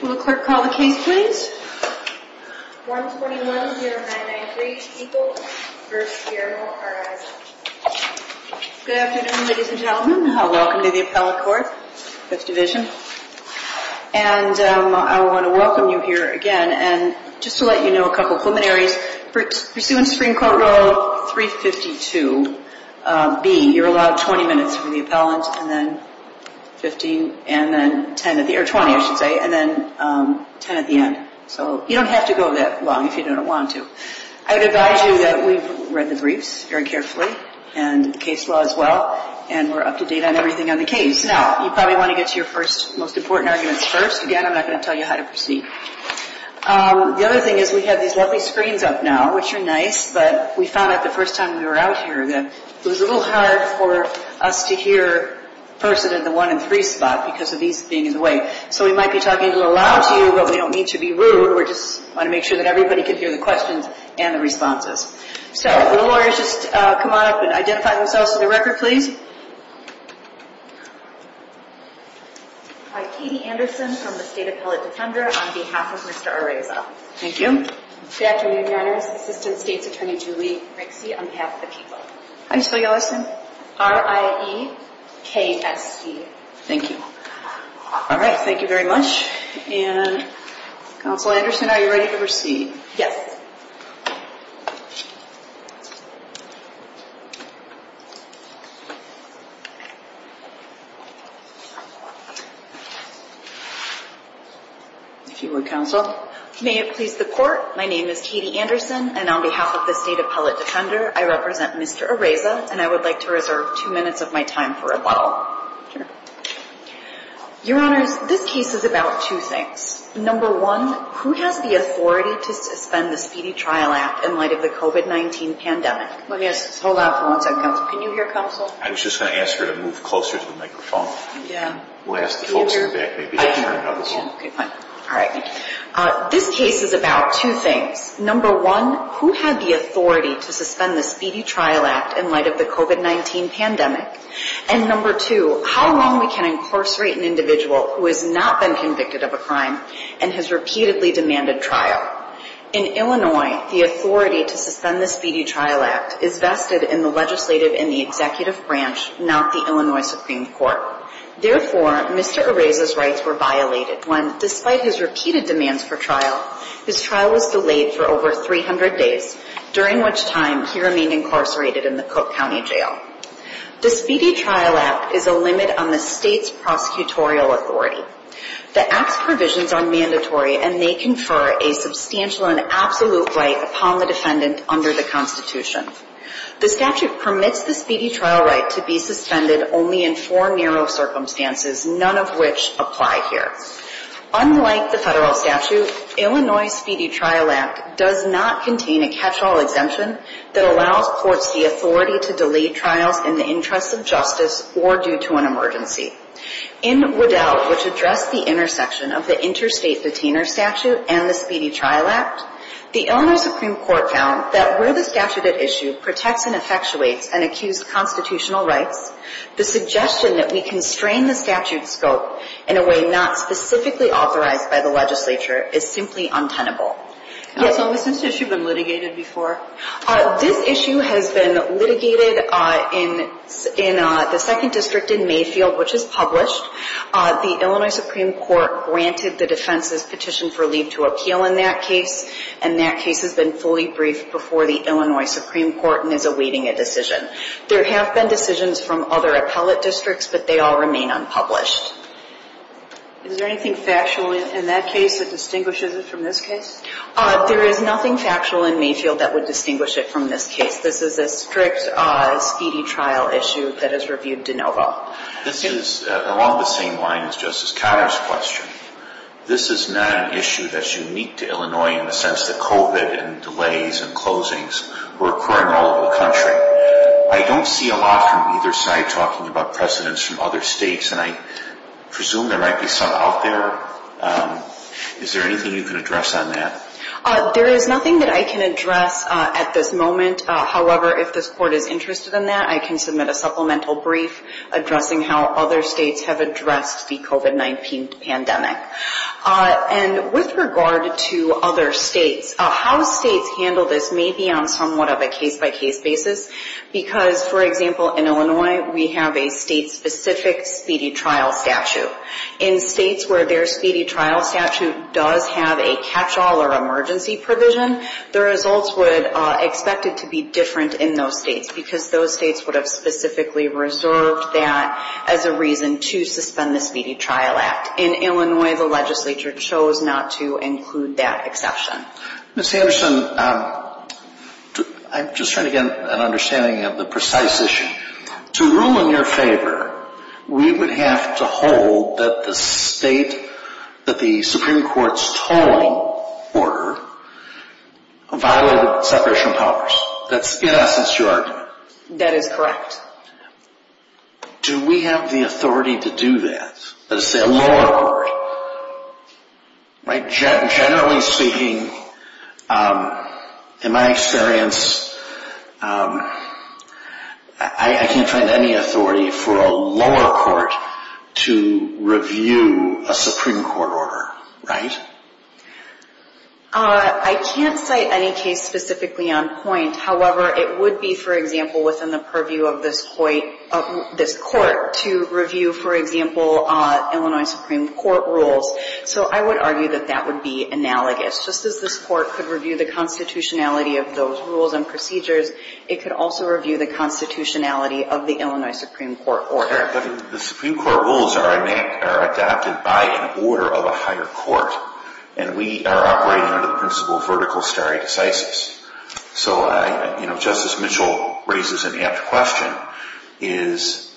Will the clerk call the case please? 121-0993 to equal, first year, Araiza. Good afternoon ladies and gentlemen. Welcome to the appellate court, 5th division. And I want to welcome you here again and just to let you know a couple preliminaries. Pursuant to Supreme Court Rule 352B, you're allowed 20 minutes for the appellant and then 15 and then 20 I should say and then 10 at the end. So you don't have to go that long if you don't want to. I would advise you that we've read the briefs very carefully and the case law as well and we're up to date on everything on the case. Now, you probably want to get to your first, most important arguments first. Again, I'm not going to tell you how to proceed. The other thing is we have these lovely screens up now, which are nice, but we found out the first time we were out here that it was a little hard for us to hear a person in the 1 and 3 spot because of these being in the way. So we might be talking a little loud to you, but we don't mean to be rude. We just want to make sure that everybody can hear the questions and the responses. So, will the lawyers just come on up and identify themselves to the record please? Hi, Katie Anderson from the State Appellate Defender on behalf of Mr. Areza. Thank you. Good afternoon, Your Honors. Assistant State's Attorney Julie Rixey on behalf of the people. Hi, Sylvia Larson. R-I-E-K-S-E. Thank you. All right, thank you very much. And, Counsel Anderson, are you ready to proceed? Yes. If you would, Counsel. May it please the Court, my name is Katie Anderson, and on behalf of the State Appellate Defender, I represent Mr. Areza, and I would like to reserve two minutes of my time for rebuttal. Sure. Your Honors, this case is about two things. Number one, who has the authority to suspend the Speedy Trial Act in light of the COVID-19 pandemic? Let me ask this. Hold on for one second, Counsel. Can you hear, Counsel? I was just going to ask her to move closer to the microphone. Yeah. We'll ask the folks in the back maybe to turn it up a little. Okay, fine. All right. This case is about two things. Number one, who had the authority to suspend the Speedy Trial Act in light of the COVID-19 pandemic? And number two, how long we can incarcerate an individual who has not been convicted of a crime and has repeatedly demanded trial? In Illinois, the authority to suspend the Speedy Trial Act is vested in the legislative and the executive branch, not the Illinois Supreme Court. Therefore, Mr. Areza's rights were violated when, despite his repeated demands for trial, his trial was delayed for over 300 days, during which time he remained incarcerated in the Cook County Jail. The Speedy Trial Act is a limit on the state's prosecutorial authority. The Act's provisions are mandatory, and they confer a substantial and absolute right upon the defendant under the Constitution. The statute permits the Speedy Trial Right to be suspended only in four narrow circumstances, none of which apply here. Unlike the federal statute, Illinois' Speedy Trial Act does not contain a catch-all exemption that allows courts the authority to delay trials in the interest of justice or due to an emergency. In Waddell, which addressed the intersection of the Interstate Detainer Statute and the Speedy Trial Act, the Illinois Supreme Court found that where the statute at issue protects and effectuates an accused constitutional rights, the suggestion that we constrain the statute's scope in a way not specifically authorized by the legislature is simply untenable. So has this issue been litigated before? This issue has been litigated in the Second District in Mayfield, which is published. The Illinois Supreme Court granted the defense's petition for leave to appeal in that case, and that case has been fully briefed before the Illinois Supreme Court and is awaiting a decision. There have been decisions from other appellate districts, but they all remain unpublished. Is there anything factual in that case that distinguishes it from this case? There is nothing factual in Mayfield that would distinguish it from this case. This is a strict Speedy Trial issue that is reviewed de novo. This is along the same lines as Justice Cotter's question. This is not an issue that's unique to Illinois in the sense that COVID and delays and closings were occurring all over the country. I don't see a lot from either side talking about precedents from other states, and I presume there might be some out there. Is there anything you can address on that? There is nothing that I can address at this moment. However, if this Court is interested in that, I can submit a supplemental brief addressing how other states have addressed the COVID-19 pandemic. And with regard to other states, how states handle this may be on somewhat of a case-by-case basis, because, for example, in Illinois, we have a state-specific Speedy Trial statute. In states where their Speedy Trial statute does have a catch-all or emergency provision, the results would expect it to be different in those states because those states would have specifically reserved that as a reason to suspend the Speedy Trial Act. In Illinois, the legislature chose not to include that exception. Ms. Anderson, I'm just trying to get an understanding of the precise issue. To rule in your favor, we would have to hold that the state that the Supreme Court's tolling order violated separation of powers. In essence, that's your argument. That is correct. Do we have the authority to do that? Let's say a lower court. Generally speaking, in my experience, I can't find any authority for a lower court to review a Supreme Court order, right? I can't cite any case specifically on point. However, it would be, for example, within the purview of this court to review, for example, Illinois Supreme Court rules. So I would argue that that would be analogous. Just as this court could review the constitutionality of those rules and procedures, it could also review the constitutionality of the Illinois Supreme Court order. The Supreme Court rules are adapted by an order of a higher court, and we are operating under the principle of vertical stare decisis. So, you know, Justice Mitchell raises an apt question. Is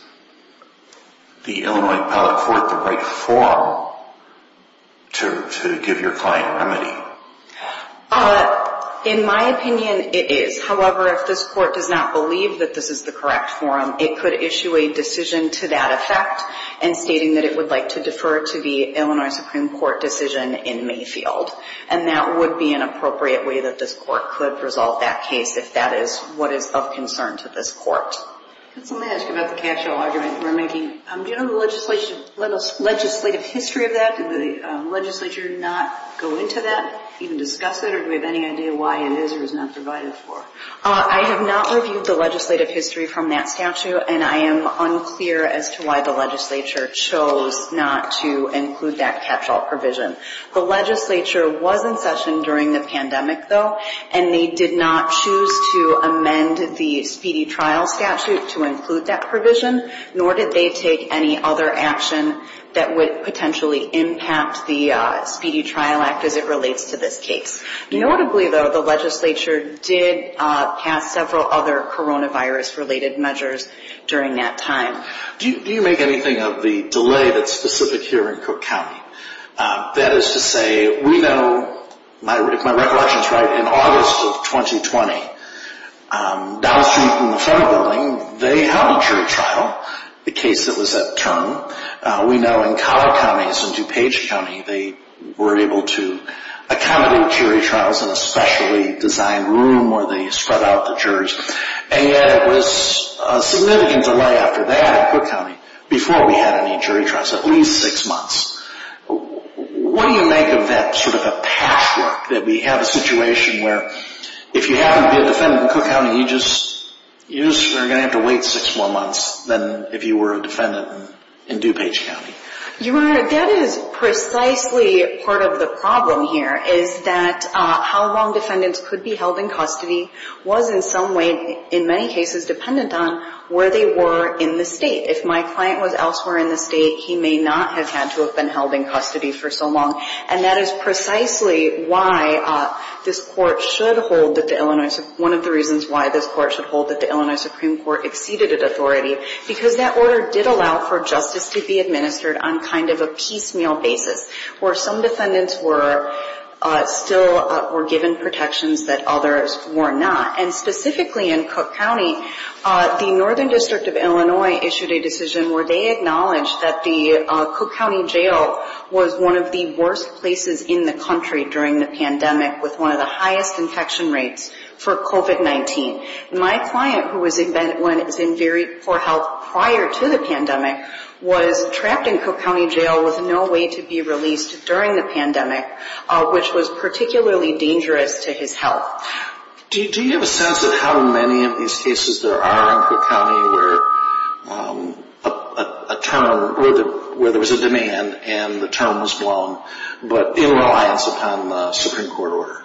the Illinois appellate court the right forum to give your client remedy? In my opinion, it is. However, if this court does not believe that this is the correct forum, it could issue a decision to that effect and stating that it would like to defer to the Illinois Supreme Court decision in Mayfield. And that would be an appropriate way that this court could resolve that case if that is what is of concern to this court. Could somebody ask about the catch-all argument we're making? Do you know the legislative history of that? Did the legislature not go into that, even discuss it? Or do we have any idea why it is or is not provided for? I have not reviewed the legislative history from that statute, and I am unclear as to why the legislature chose not to include that catch-all provision. The legislature was in session during the pandemic, though, and they did not choose to amend the speedy trial statute to include that provision, nor did they take any other action that would potentially impact the Speedy Trial Act as it relates to this case. Notably, though, the legislature did pass several other coronavirus-related measures during that time. Do you make anything of the delay that's specific here in Cook County? That is to say, we know, if my recollection is right, in August of 2020, down the street from the front of the building, they held a jury trial, the case that was at turn. We know in Collier County and DuPage County, they were able to accommodate jury trials in a specially designed room where they spread out the jurors. And yet it was a significant delay after that in Cook County before we had any jury trials, at least six months. What do you make of that sort of a patchwork that we have a situation where if you happen to be a defendant in Cook County, you just are going to have to wait six more months than if you were a defendant in DuPage County? Your Honor, that is precisely part of the problem here, is that how long defendants could be held in custody was in some way, in many cases, dependent on where they were in the state. If my client was elsewhere in the state, he may not have had to have been held in custody for so long. And that is precisely why this Court should hold that the Illinois, one of the reasons why this Court should hold that the Illinois Supreme Court exceeded its authority, because that order did allow for justice to be administered on kind of a piecemeal basis, where some defendants were still given protections that others were not. And specifically in Cook County, the Northern District of Illinois issued a decision where they acknowledged that the Cook County Jail was one of the worst places in the country during the pandemic, with one of the highest infection rates for COVID-19. My client, who was in very poor health prior to the pandemic, was trapped in Cook County Jail with no way to be released during the pandemic, which was particularly dangerous to his health. Do you have a sense of how many of these cases there are in Cook County where a term, where there was a demand and the term was blown, but in reliance upon the Supreme Court order?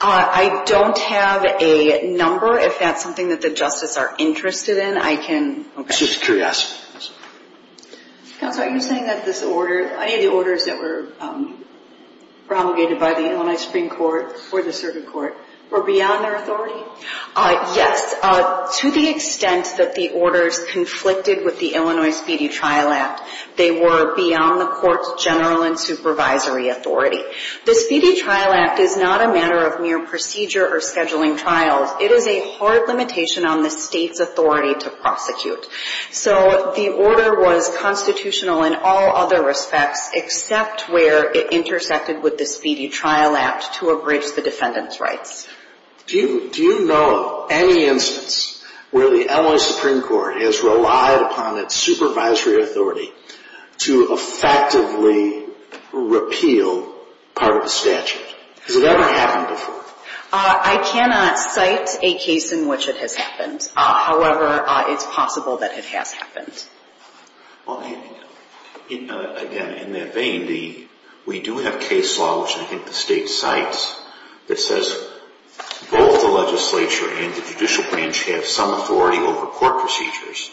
I don't have a number. If that's something that the justices are interested in, I can... Just a curiosity. Counsel, are you saying that this order, any of the orders that were promulgated by the Illinois Supreme Court or the Circuit Court, were beyond their authority? Yes. To the extent that the orders conflicted with the Illinois Speedy Trial Act, they were beyond the Court's general and supervisory authority. The Speedy Trial Act is not a matter of mere procedure or scheduling trials. It is a hard limitation on the State's authority to prosecute. So the order was constitutional in all other respects, except where it intersected with the Speedy Trial Act to abridge the defendant's rights. Do you know of any instance where the Illinois Supreme Court has relied upon its supervisory authority to effectively repeal part of the statute? Has it ever happened before? I cannot cite a case in which it has happened. However, it's possible that it has happened. Again, in that vein, we do have case law, which I think the State cites, that says both the legislature and the judicial branch have some authority over court procedures,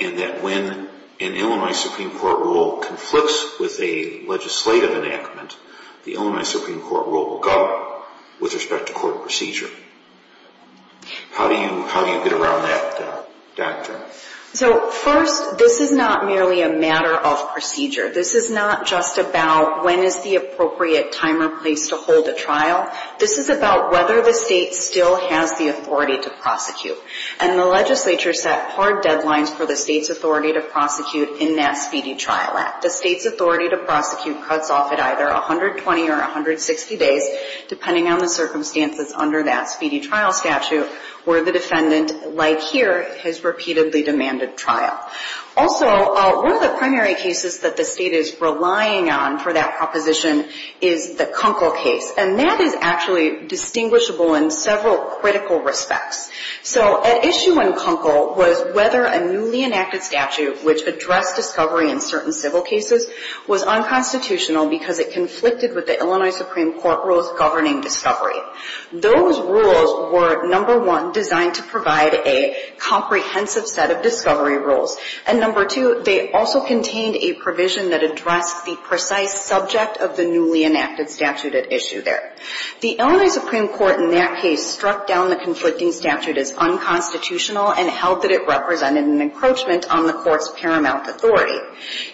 and that when an Illinois Supreme Court rule conflicts with a legislative enactment, the Illinois Supreme Court rule will go with respect to court procedure. How do you get around that doctrine? So first, this is not merely a matter of procedure. This is not just about when is the appropriate time or place to hold a trial. This is about whether the State still has the authority to prosecute. And the legislature set hard deadlines for the State's authority to prosecute in that Speedy Trial Act. The State's authority to prosecute cuts off at either 120 or 160 days, depending on the circumstances under that Speedy Trial Statute, where the defendant, like here, has repeatedly demanded trial. Also, one of the primary cases that the State is relying on for that proposition is the Kunkel case. And that is actually distinguishable in several critical respects. So at issue in Kunkel was whether a newly enacted statute, which addressed discovery in certain civil cases, was unconstitutional because it conflicted with the Illinois Supreme Court rules governing discovery. Those rules were, number one, designed to provide a comprehensive set of discovery rules. And number two, they also contained a provision that addressed the precise subject of the newly enacted statute at issue there. The Illinois Supreme Court in that case struck down the conflicting statute as unconstitutional and held that it represented an encroachment on the Court's paramount authority.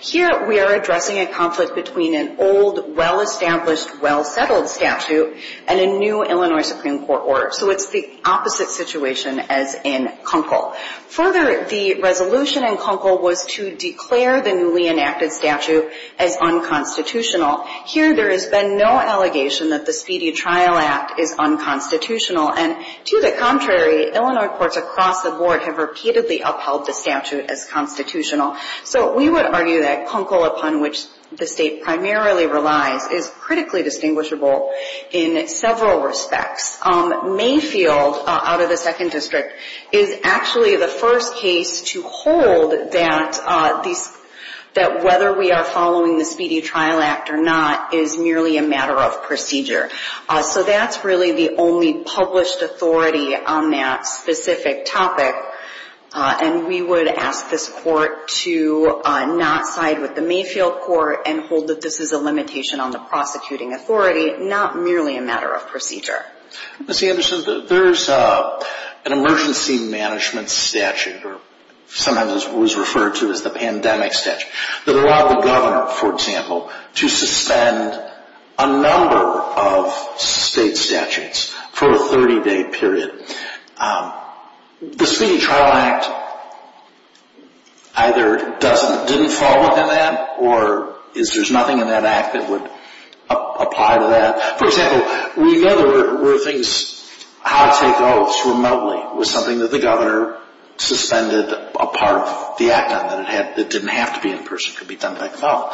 Here we are addressing a conflict between an old, well-established, well-settled statute and a new Illinois Supreme Court order. So it's the opposite situation as in Kunkel. Further, the resolution in Kunkel was to declare the newly enacted statute as unconstitutional. Here there has been no allegation that the Speedy Trial Act is unconstitutional. And to the contrary, Illinois courts across the board have repeatedly upheld the statute as constitutional. So we would argue that Kunkel, upon which the State primarily relies, is critically distinguishable in several respects. Mayfield, out of the Second District, is actually the first case to hold that these — that whether we are following the Speedy Trial Act or not is merely a matter of procedure. So that's really the only published authority on that specific topic. And we would ask this Court to not side with the Mayfield Court and hold that this is a limitation on the prosecuting authority, not merely a matter of procedure. Ms. Anderson, there's an emergency management statute, or sometimes it was referred to as the pandemic statute, that allowed the governor, for example, to suspend a number of state statutes for a 30-day period. The Speedy Trial Act either didn't fall within that, or is there nothing in that act that would apply to that? For example, we know there were things — how to take oaths remotely was something that the governor suspended a part of the act on, that it didn't have to be in person, could be done by default.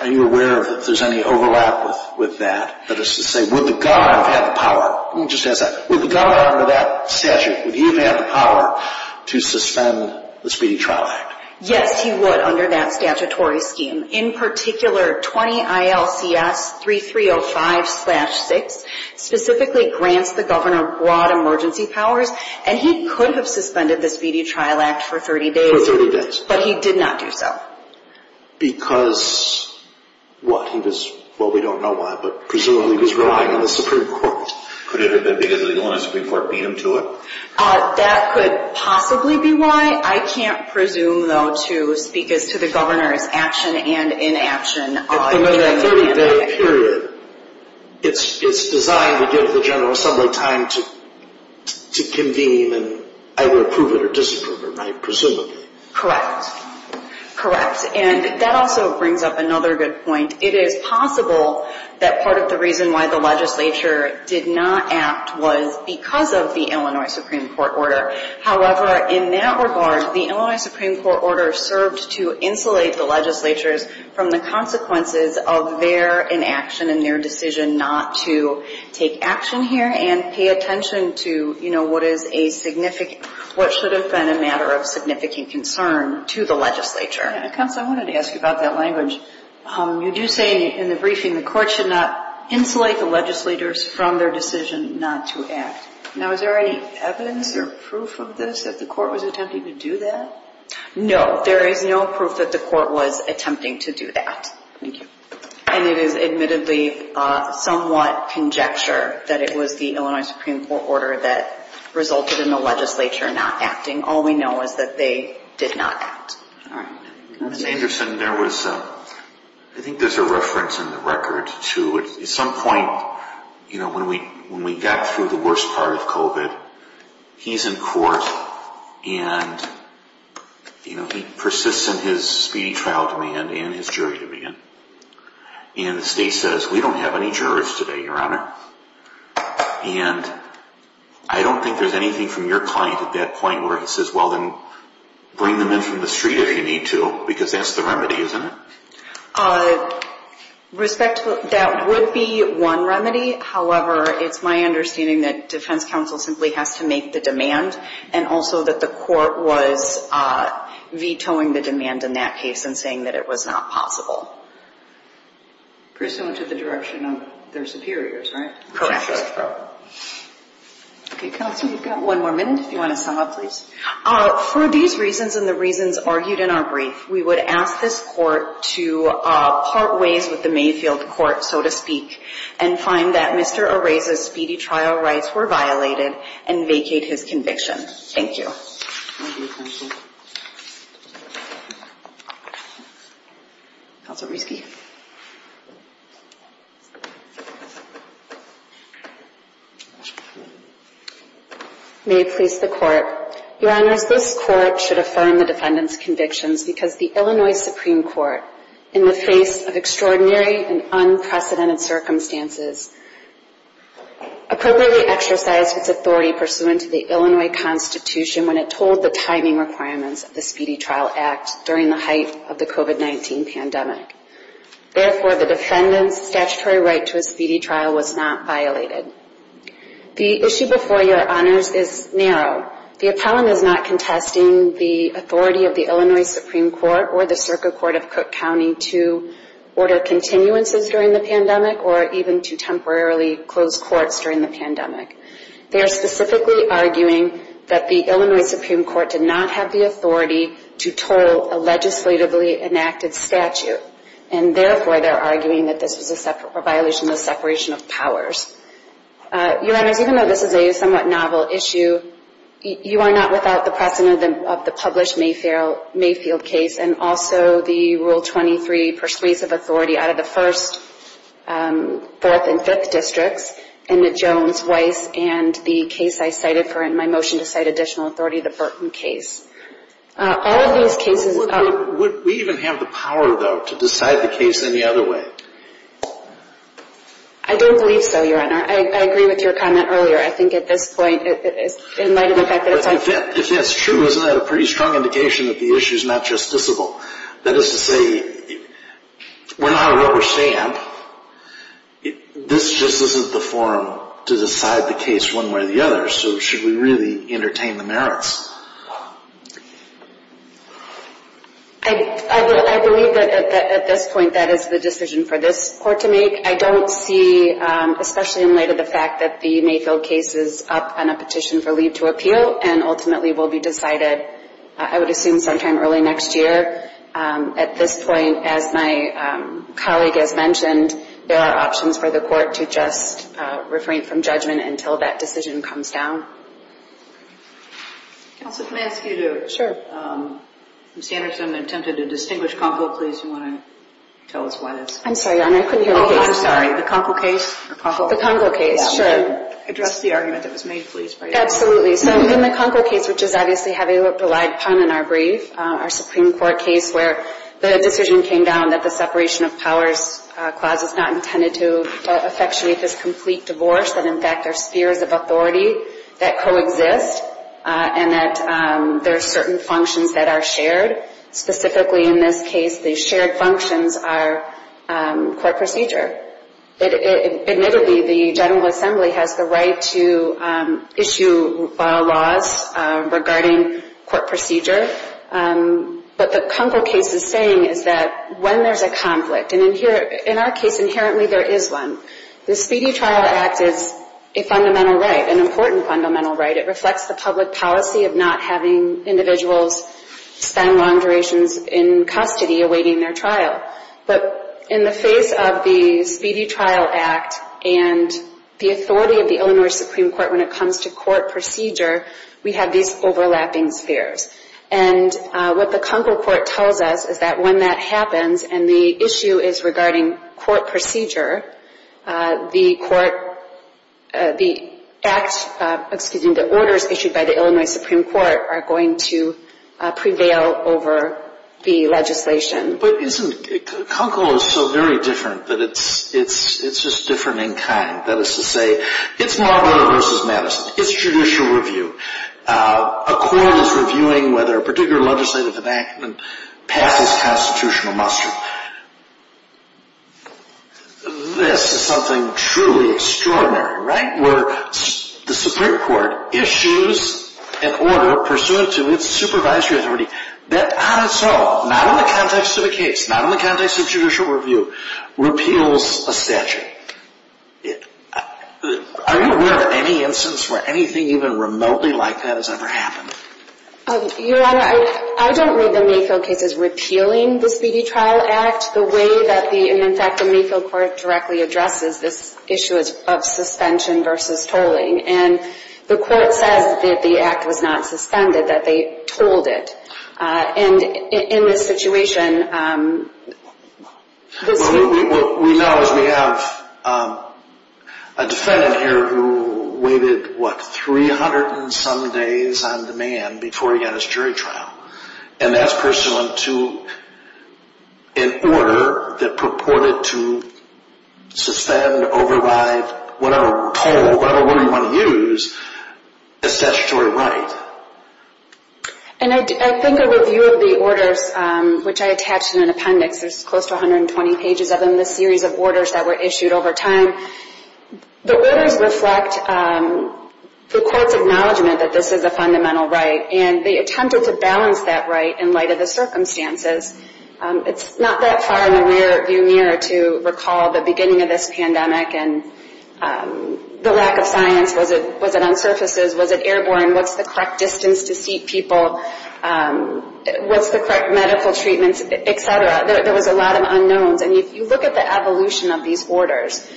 Are you aware if there's any overlap with that? That is to say, would the governor have had the power — let me just ask that. Would the governor, under that statute, would he have had the power to suspend the Speedy Trial Act? Yes, he would, under that statutory scheme. In particular, 20 ILCS 3305-6 specifically grants the governor broad emergency powers, and he could have suspended the Speedy Trial Act for 30 days. For 30 days. But he did not do so. Because what? He was — well, we don't know why, but presumably he was relying on the Supreme Court. Could it have been because the Supreme Court beat him to it? That could possibly be why. I can't presume, though, to speak as to the governor's action and inaction. In that 30-day period, it's designed to give the General Assembly time to convene and either approve it or disapprove it, presumably. Correct. Correct. And that also brings up another good point. And it is possible that part of the reason why the legislature did not act was because of the Illinois Supreme Court order. However, in that regard, the Illinois Supreme Court order served to insulate the legislatures from the consequences of their inaction and their decision not to take action here and pay attention to, you know, what is a significant — what should have been a matter of significant concern to the legislature. Counsel, I wanted to ask you about that language. You do say in the briefing the court should not insulate the legislators from their decision not to act. Now, is there any evidence or proof of this, that the court was attempting to do that? No, there is no proof that the court was attempting to do that. Thank you. And it is admittedly somewhat conjecture that it was the Illinois Supreme Court order that resulted in the legislature not acting. All we know is that they did not act. All right. Mr. Anderson, there was — I think there is a reference in the record to at some point, you know, when we got through the worst part of COVID, he is in court and, you know, he persists in his speedy trial demand and his jury demand. And the state says, we don't have any jurors today, Your Honor. And I don't think there is anything from your client at that point where he says, well, then bring them in from the street if you need to, because that's the remedy, isn't it? Respectfully, that would be one remedy. However, it's my understanding that defense counsel simply has to make the demand and also that the court was vetoing the demand in that case and saying that it was not possible. Pursuant to the direction of their superiors, right? Correct. Okay, counsel, we've got one more minute if you want to sum up, please. For these reasons and the reasons argued in our brief, we would ask this court to part ways with the Mayfield court, so to speak, and find that Mr. Areza's speedy trial rights were violated and vacate his conviction. Thank you. Thank you, counsel. Counsel Risky. May it please the court. Your Honors, this court should affirm the defendant's convictions because the Illinois Supreme Court, in the face of extraordinary and unprecedented circumstances, appropriately exercised its authority pursuant to the Illinois Constitution when it told the timing requirements of the Speedy Trial Act during the height of the COVID-19 pandemic. Therefore, the defendant's statutory right to a speedy trial was not violated. The issue before you, Your Honors, is narrow. The appellant is not contesting the authority of the Illinois Supreme Court or the Circuit Court of Cook County to order continuances during the pandemic or even to temporarily close courts during the pandemic. They are specifically arguing that the Illinois Supreme Court did not have the authority to toll a legislatively enacted statute, and therefore they're arguing that this was a violation of the separation of powers. Your Honors, even though this is a somewhat novel issue, you are not without the precedent of the published Mayfield case and also the Rule 23 persuasive authority out of the first, fourth, and fifth districts, and the Jones, Weiss, and the case I cited for my motion to cite additional authority, the Burton case. All of these cases are- Would we even have the power, though, to decide the case any other way? I don't believe so, Your Honor. I agree with your comment earlier. I think at this point, in light of the fact that it's- If that's true, isn't that a pretty strong indication that the issue's not justiciable? That is to say, we're not a rubber stamp. This just isn't the forum to decide the case one way or the other, so should we really entertain the merits? I believe that at this point, that is the decision for this court to make. I don't see, especially in light of the fact that the Mayfield case is up on a petition for leave to appeal and ultimately will be decided, I would assume, sometime early next year. At this point, as my colleague has mentioned, there are options for the court to just refrain from judgment until that decision comes down. Counsel, can I ask you to- Sure. I'm standing, so I'm going to attempt to do a distinguished comment. Please, if you want to tell us why that's- I'm sorry, Your Honor, I couldn't hear the case. Oh, I'm sorry, the Conkle case? The Conkle case, sure. Address the argument that was made, please. Absolutely. So in the Conkle case, which is obviously having a polite pun in our brief, our Supreme Court case where the decision came down that the separation of powers clause is not intended to effectuate this complete divorce, that in fact there's spheres of authority that coexist, and that there are certain functions that are shared. Specifically in this case, the shared functions are court procedure. Admittedly, the General Assembly has the right to issue laws regarding court procedure, but the Conkle case is saying is that when there's a conflict, and in our case inherently there is one, the Speedy Trial Act is a fundamental right, an important fundamental right. It reflects the public policy of not having individuals spend long durations in custody awaiting their trial. But in the face of the Speedy Trial Act and the authority of the Illinois Supreme Court when it comes to court procedure, we have these overlapping spheres. And what the Conkle court tells us is that when that happens, and the issue is regarding court procedure, the court, the act, excuse me, the orders issued by the Illinois Supreme Court are going to prevail over the legislation. But isn't, Conkle is so very different that it's just different in kind. That is to say, it's Marlboro versus Madison. It's judicial review. A court is reviewing whether a particular legislative enactment passes constitutional muster. This is something truly extraordinary, right? Where the Supreme Court issues an order pursuant to its supervisory authority that on its own, not in the context of a case, not in the context of judicial review, repeals a statute. Are you aware of any instance where anything even remotely like that has ever happened? Your Honor, I don't read the Mayfield cases repealing the Speedy Trial Act the way that the, in fact, the Mayfield court directly addresses this issue of suspension versus tolling. And the court says that the act was not suspended, that they tolled it. And in this situation... What we know is we have a defendant here who waited, what, 300 and some days on demand before he got his jury trial. And that's pursuant to an order that purported to suspend, override, whatever toll, whatever word you want to use, a statutory right. And I think a review of the orders, which I attached in an appendix, there's close to 120 pages of them, this series of orders that were issued over time. The orders reflect the court's acknowledgement that this is a fundamental right. And they attempted to balance that right in light of the circumstances. It's not that far in the rear view mirror to recall the beginning of this pandemic and the lack of science. Was it on surfaces? Was it airborne? What's the correct distance to seat people? What's the correct medical treatment, etc.? There was a lot of unknowns. And if you look at the evolution of these orders,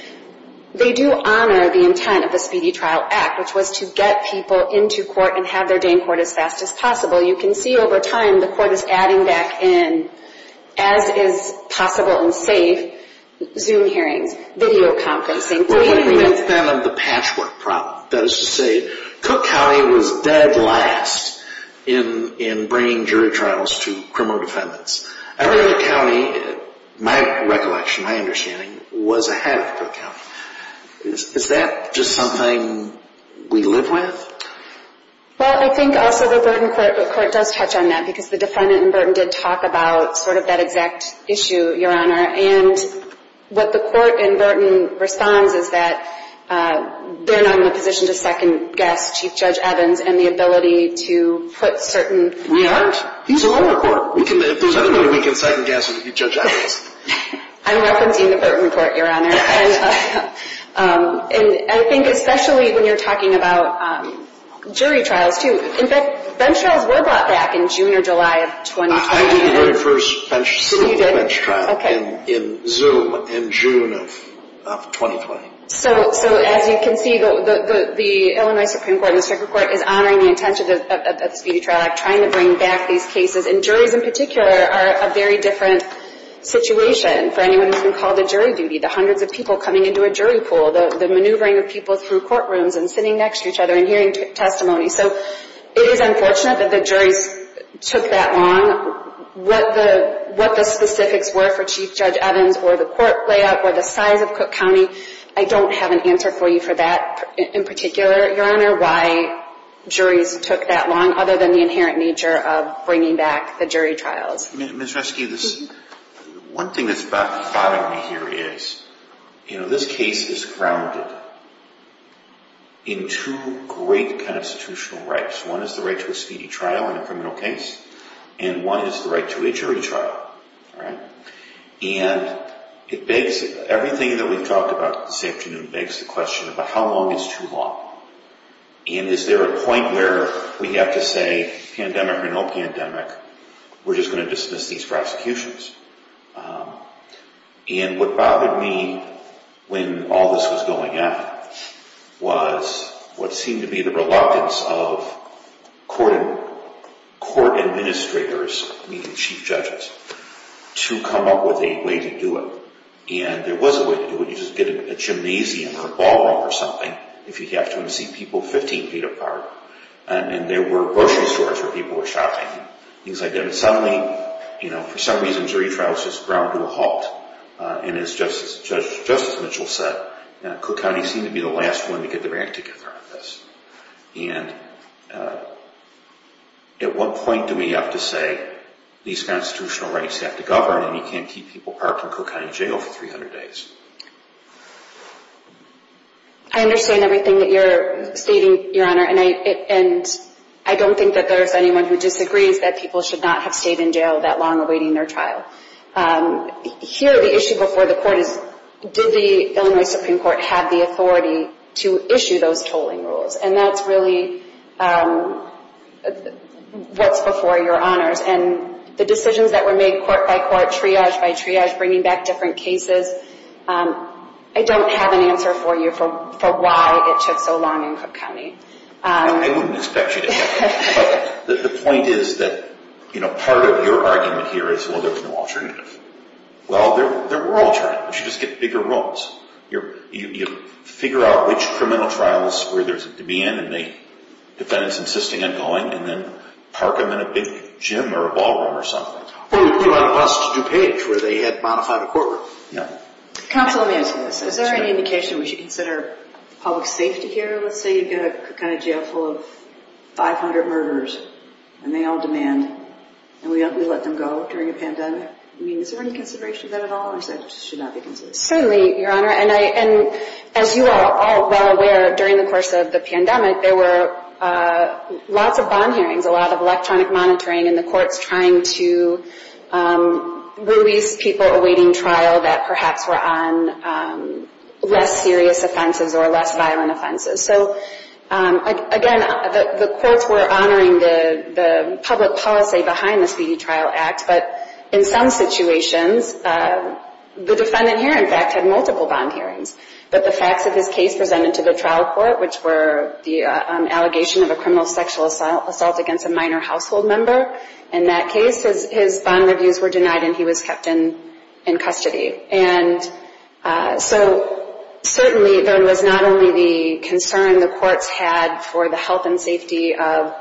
they do honor the intent of the Speedy Trial Act, which was to get people into court and have their day in court as fast as possible. You can see over time the court is adding back in, as is possible and safe, Zoom hearings, video conferencing. What would have been the patchwork problem? That is to say, Cook County was dead last in bringing jury trials to criminal defendants. Everett County, my recollection, my understanding, was ahead of Cook County. Is that just something we live with? Well, I think also the Burton court does touch on that because the defendant in Burton did talk about sort of that exact issue, Your Honor. And what the court in Burton responds is that they're not in a position to second-guess Chief Judge Evans and the ability to put certain— We aren't. He's a lower court. If there's anybody we can second-guess, it would be Judge Evans. I'm referencing the Burton court, Your Honor. And I think especially when you're talking about jury trials, too. In fact, bench trials were brought back in June or July of 2020. I did the very first bench trial in Zoom in June of 2020. So as you can see, the Illinois Supreme Court and the Supreme Court is honoring the intention of the Speedy Trial Act, trying to bring back these cases. And juries in particular are a very different situation for anyone who's been called to jury duty, the hundreds of people coming into a jury pool, the maneuvering of people through courtrooms and sitting next to each other and hearing testimony. So it is unfortunate that the juries took that long. What the specifics were for Chief Judge Evans or the court layout or the size of Cook County, I don't have an answer for you for that in particular, Your Honor, why juries took that long other than the inherent nature of bringing back the jury trials. Ms. Reske, one thing that's backfired on me here is, you know, this case is grounded in two great constitutional rights. One is the right to a speedy trial in a criminal case, and one is the right to a jury trial. And it begs, everything that we've talked about this afternoon begs the question about how long is too long? And is there a point where we have to say pandemic or no pandemic? We're just going to dismiss these prosecutions. And what bothered me when all this was going on was what seemed to be the reluctance of court administrators, meaning chief judges, to come up with a way to do it. And there was a way to do it. You just get a gymnasium or a ballroom or something if you have to and see people 15 feet apart. And there were grocery stores where people were shopping, things like that. And suddenly, you know, for some reason jury trials just ground to a halt. And as Justice Mitchell said, Cook County seemed to be the last one to get their act together on this. And at what point do we have to say these constitutional rights have to govern and you can't keep people parked in Cook County Jail for 300 days? I understand everything that you're stating, Your Honor. And I don't think that there's anyone who disagrees that people should not have stayed in jail that long awaiting their trial. Here, the issue before the court is did the Illinois Supreme Court have the authority to issue those tolling rules? And that's really what's before your honors. And the decisions that were made court by court, triage by triage, bringing back different cases, I don't have an answer for you for why it took so long in Cook County. I wouldn't expect you to have an answer. But the point is that, you know, part of your argument here is, well, there's no alternative. Well, there were alternatives. You just get bigger rolls. You figure out which criminal trials where there's a demand and the defendants insisting on going and then park them in a big gym or a ballroom or something. Or you could go on a bus to DuPage where they had modified a courtroom. Counsel, let me ask you this. Is there any indication we should consider public safety here? Let's say you've got a Cook County Jail full of 500 murderers and they all demand and we let them go during a pandemic. I mean, is there any consideration of that at all? Or is that it should not be considered? Certainly, Your Honor. And as you are all well aware, during the course of the pandemic, there were lots of bond hearings, a lot of electronic monitoring, and the courts trying to release people awaiting trial that perhaps were on less serious offenses or less violent offenses. So, again, the courts were honoring the public policy behind the Speedy Trial Act. But in some situations, the defendant here, in fact, had multiple bond hearings. But the facts of his case presented to the trial court, which were the allegation of a criminal sexual assault against a minor household member. In that case, his bond reviews were denied and he was kept in custody. And so, certainly, there was not only the concern the courts had for the health and safety of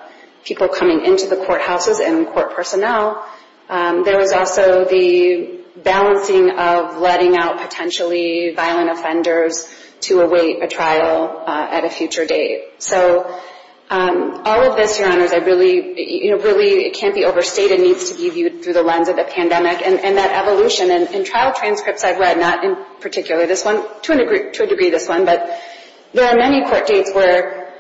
people coming into the courthouses and court personnel, there was also the balancing of letting out potentially violent offenders to await a trial at a future date. So, all of this, Your Honors, really can't be overstated. It needs to be viewed through the lens of the pandemic and that evolution. In trial transcripts I've read, not in particular this one, to a degree this one, but there are many court dates where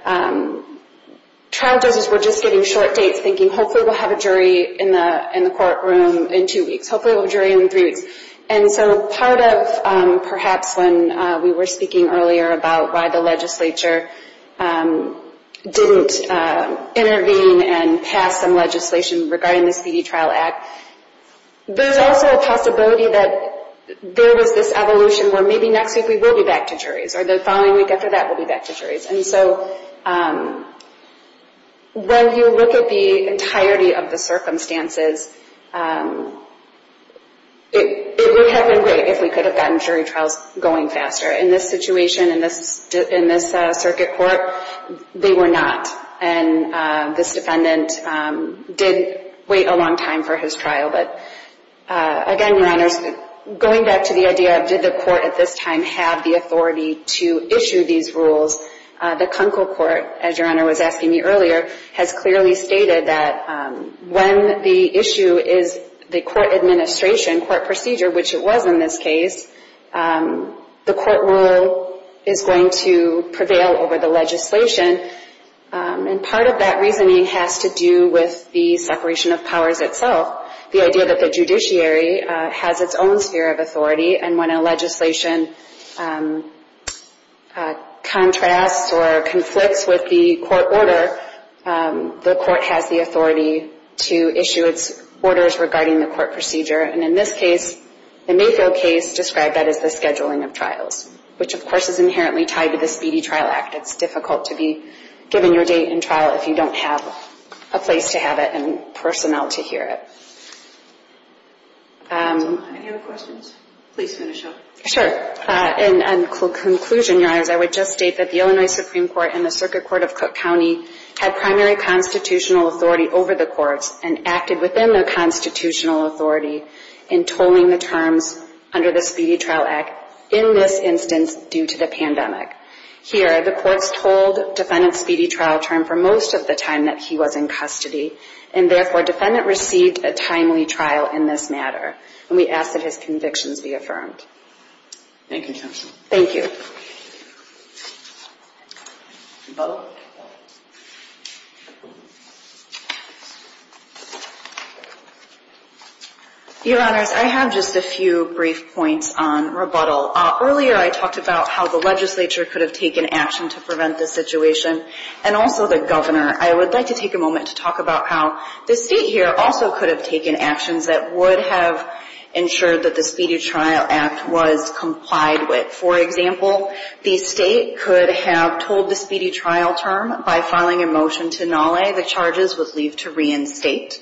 trial judges were just giving short dates thinking, hopefully we'll have a jury in the courtroom in two weeks, hopefully we'll have a jury in three weeks. And so, part of perhaps when we were speaking earlier about why the legislature didn't intervene and pass some legislation regarding the Speedy Trial Act, there's also a possibility that there was this evolution where maybe next week we will be back to juries or the following week after that we'll be back to juries. And so, when you look at the entirety of the circumstances, it would have been great if we could have gotten jury trials going faster. In this situation, in this circuit court, they were not. And this defendant did wait a long time for his trial. But again, Your Honors, going back to the idea of did the court at this time have the authority to issue these rules, the Kunkel Court, as Your Honor was asking me earlier, has clearly stated that when the issue is the court administration, court procedure, which it was in this case, the court rule is going to prevail over the legislation. And part of that reasoning has to do with the separation of powers itself, the idea that the judiciary has its own sphere of authority. And when a legislation contrasts or conflicts with the court order, the court has the authority to issue its orders regarding the court procedure. And in this case, the Mayfield case described that as the scheduling of trials, which of course is inherently tied to the Speedy Trial Act. It's difficult to be given your date in trial if you don't have a place to have it and personnel to hear it. Any other questions? Please finish up. Sure. In conclusion, Your Honors, I would just state that the Illinois Supreme Court and the Circuit Court of Cook County had primary constitutional authority over the courts and acted within the constitutional authority in tolling the terms under the Speedy Trial Act in this instance due to the pandemic. Here, the courts told Defendant Speedy Trial Term for most of the time that he was in custody. And therefore, Defendant received a timely trial in this matter. And we ask that his convictions be affirmed. Thank you, Judge. Thank you. Your Honors, I have just a few brief points on rebuttal. Earlier, I talked about how the legislature could have taken action to prevent this situation and also the governor. I would like to take a moment to talk about how the State here also could have taken actions that would have ensured that the Speedy Trial Act was complied with. For example, the State could have told the Speedy Trial Term by filing a motion to nolle the charges would leave to reinstate.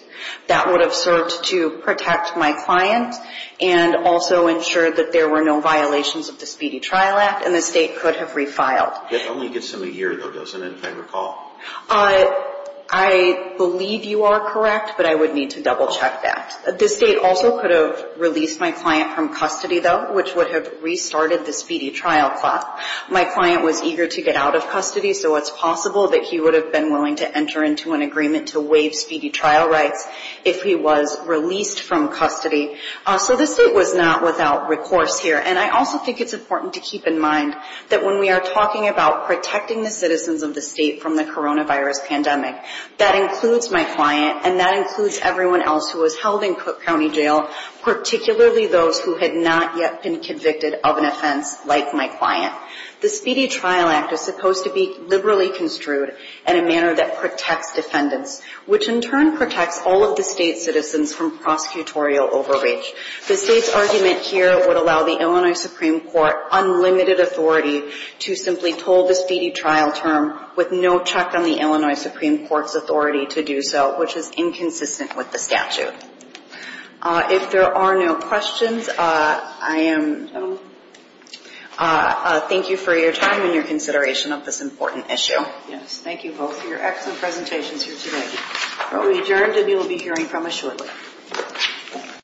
That would have served to protect my client and also ensure that there were no violations of the Speedy Trial Act, and the State could have refiled. It only gets to a year, though, doesn't it, if I recall? I believe you are correct, but I would need to double-check that. The State also could have released my client from custody, though, which would have restarted the Speedy Trial Clause. My client was eager to get out of custody, so it's possible that he would have been willing to enter into an agreement to waive speedy trial rights if he was released from custody. So the State was not without recourse here. And I also think it's important to keep in mind that when we are talking about protecting the citizens of the State from the coronavirus pandemic, that includes my client and that includes everyone else who was held in Cook County Jail, particularly those who had not yet been convicted of an offense like my client. The Speedy Trial Act is supposed to be liberally construed in a manner that protects defendants, which in turn protects all of the State's citizens from prosecutorial overreach. The State's argument here would allow the Illinois Supreme Court unlimited authority to simply toll the speedy trial term with no check on the Illinois Supreme Court's authority to do so, which is inconsistent with the statute. If there are no questions, thank you for your time and your consideration of this important issue. Thank you both for your excellent presentations here today. We will be adjourned and you will be hearing from us shortly.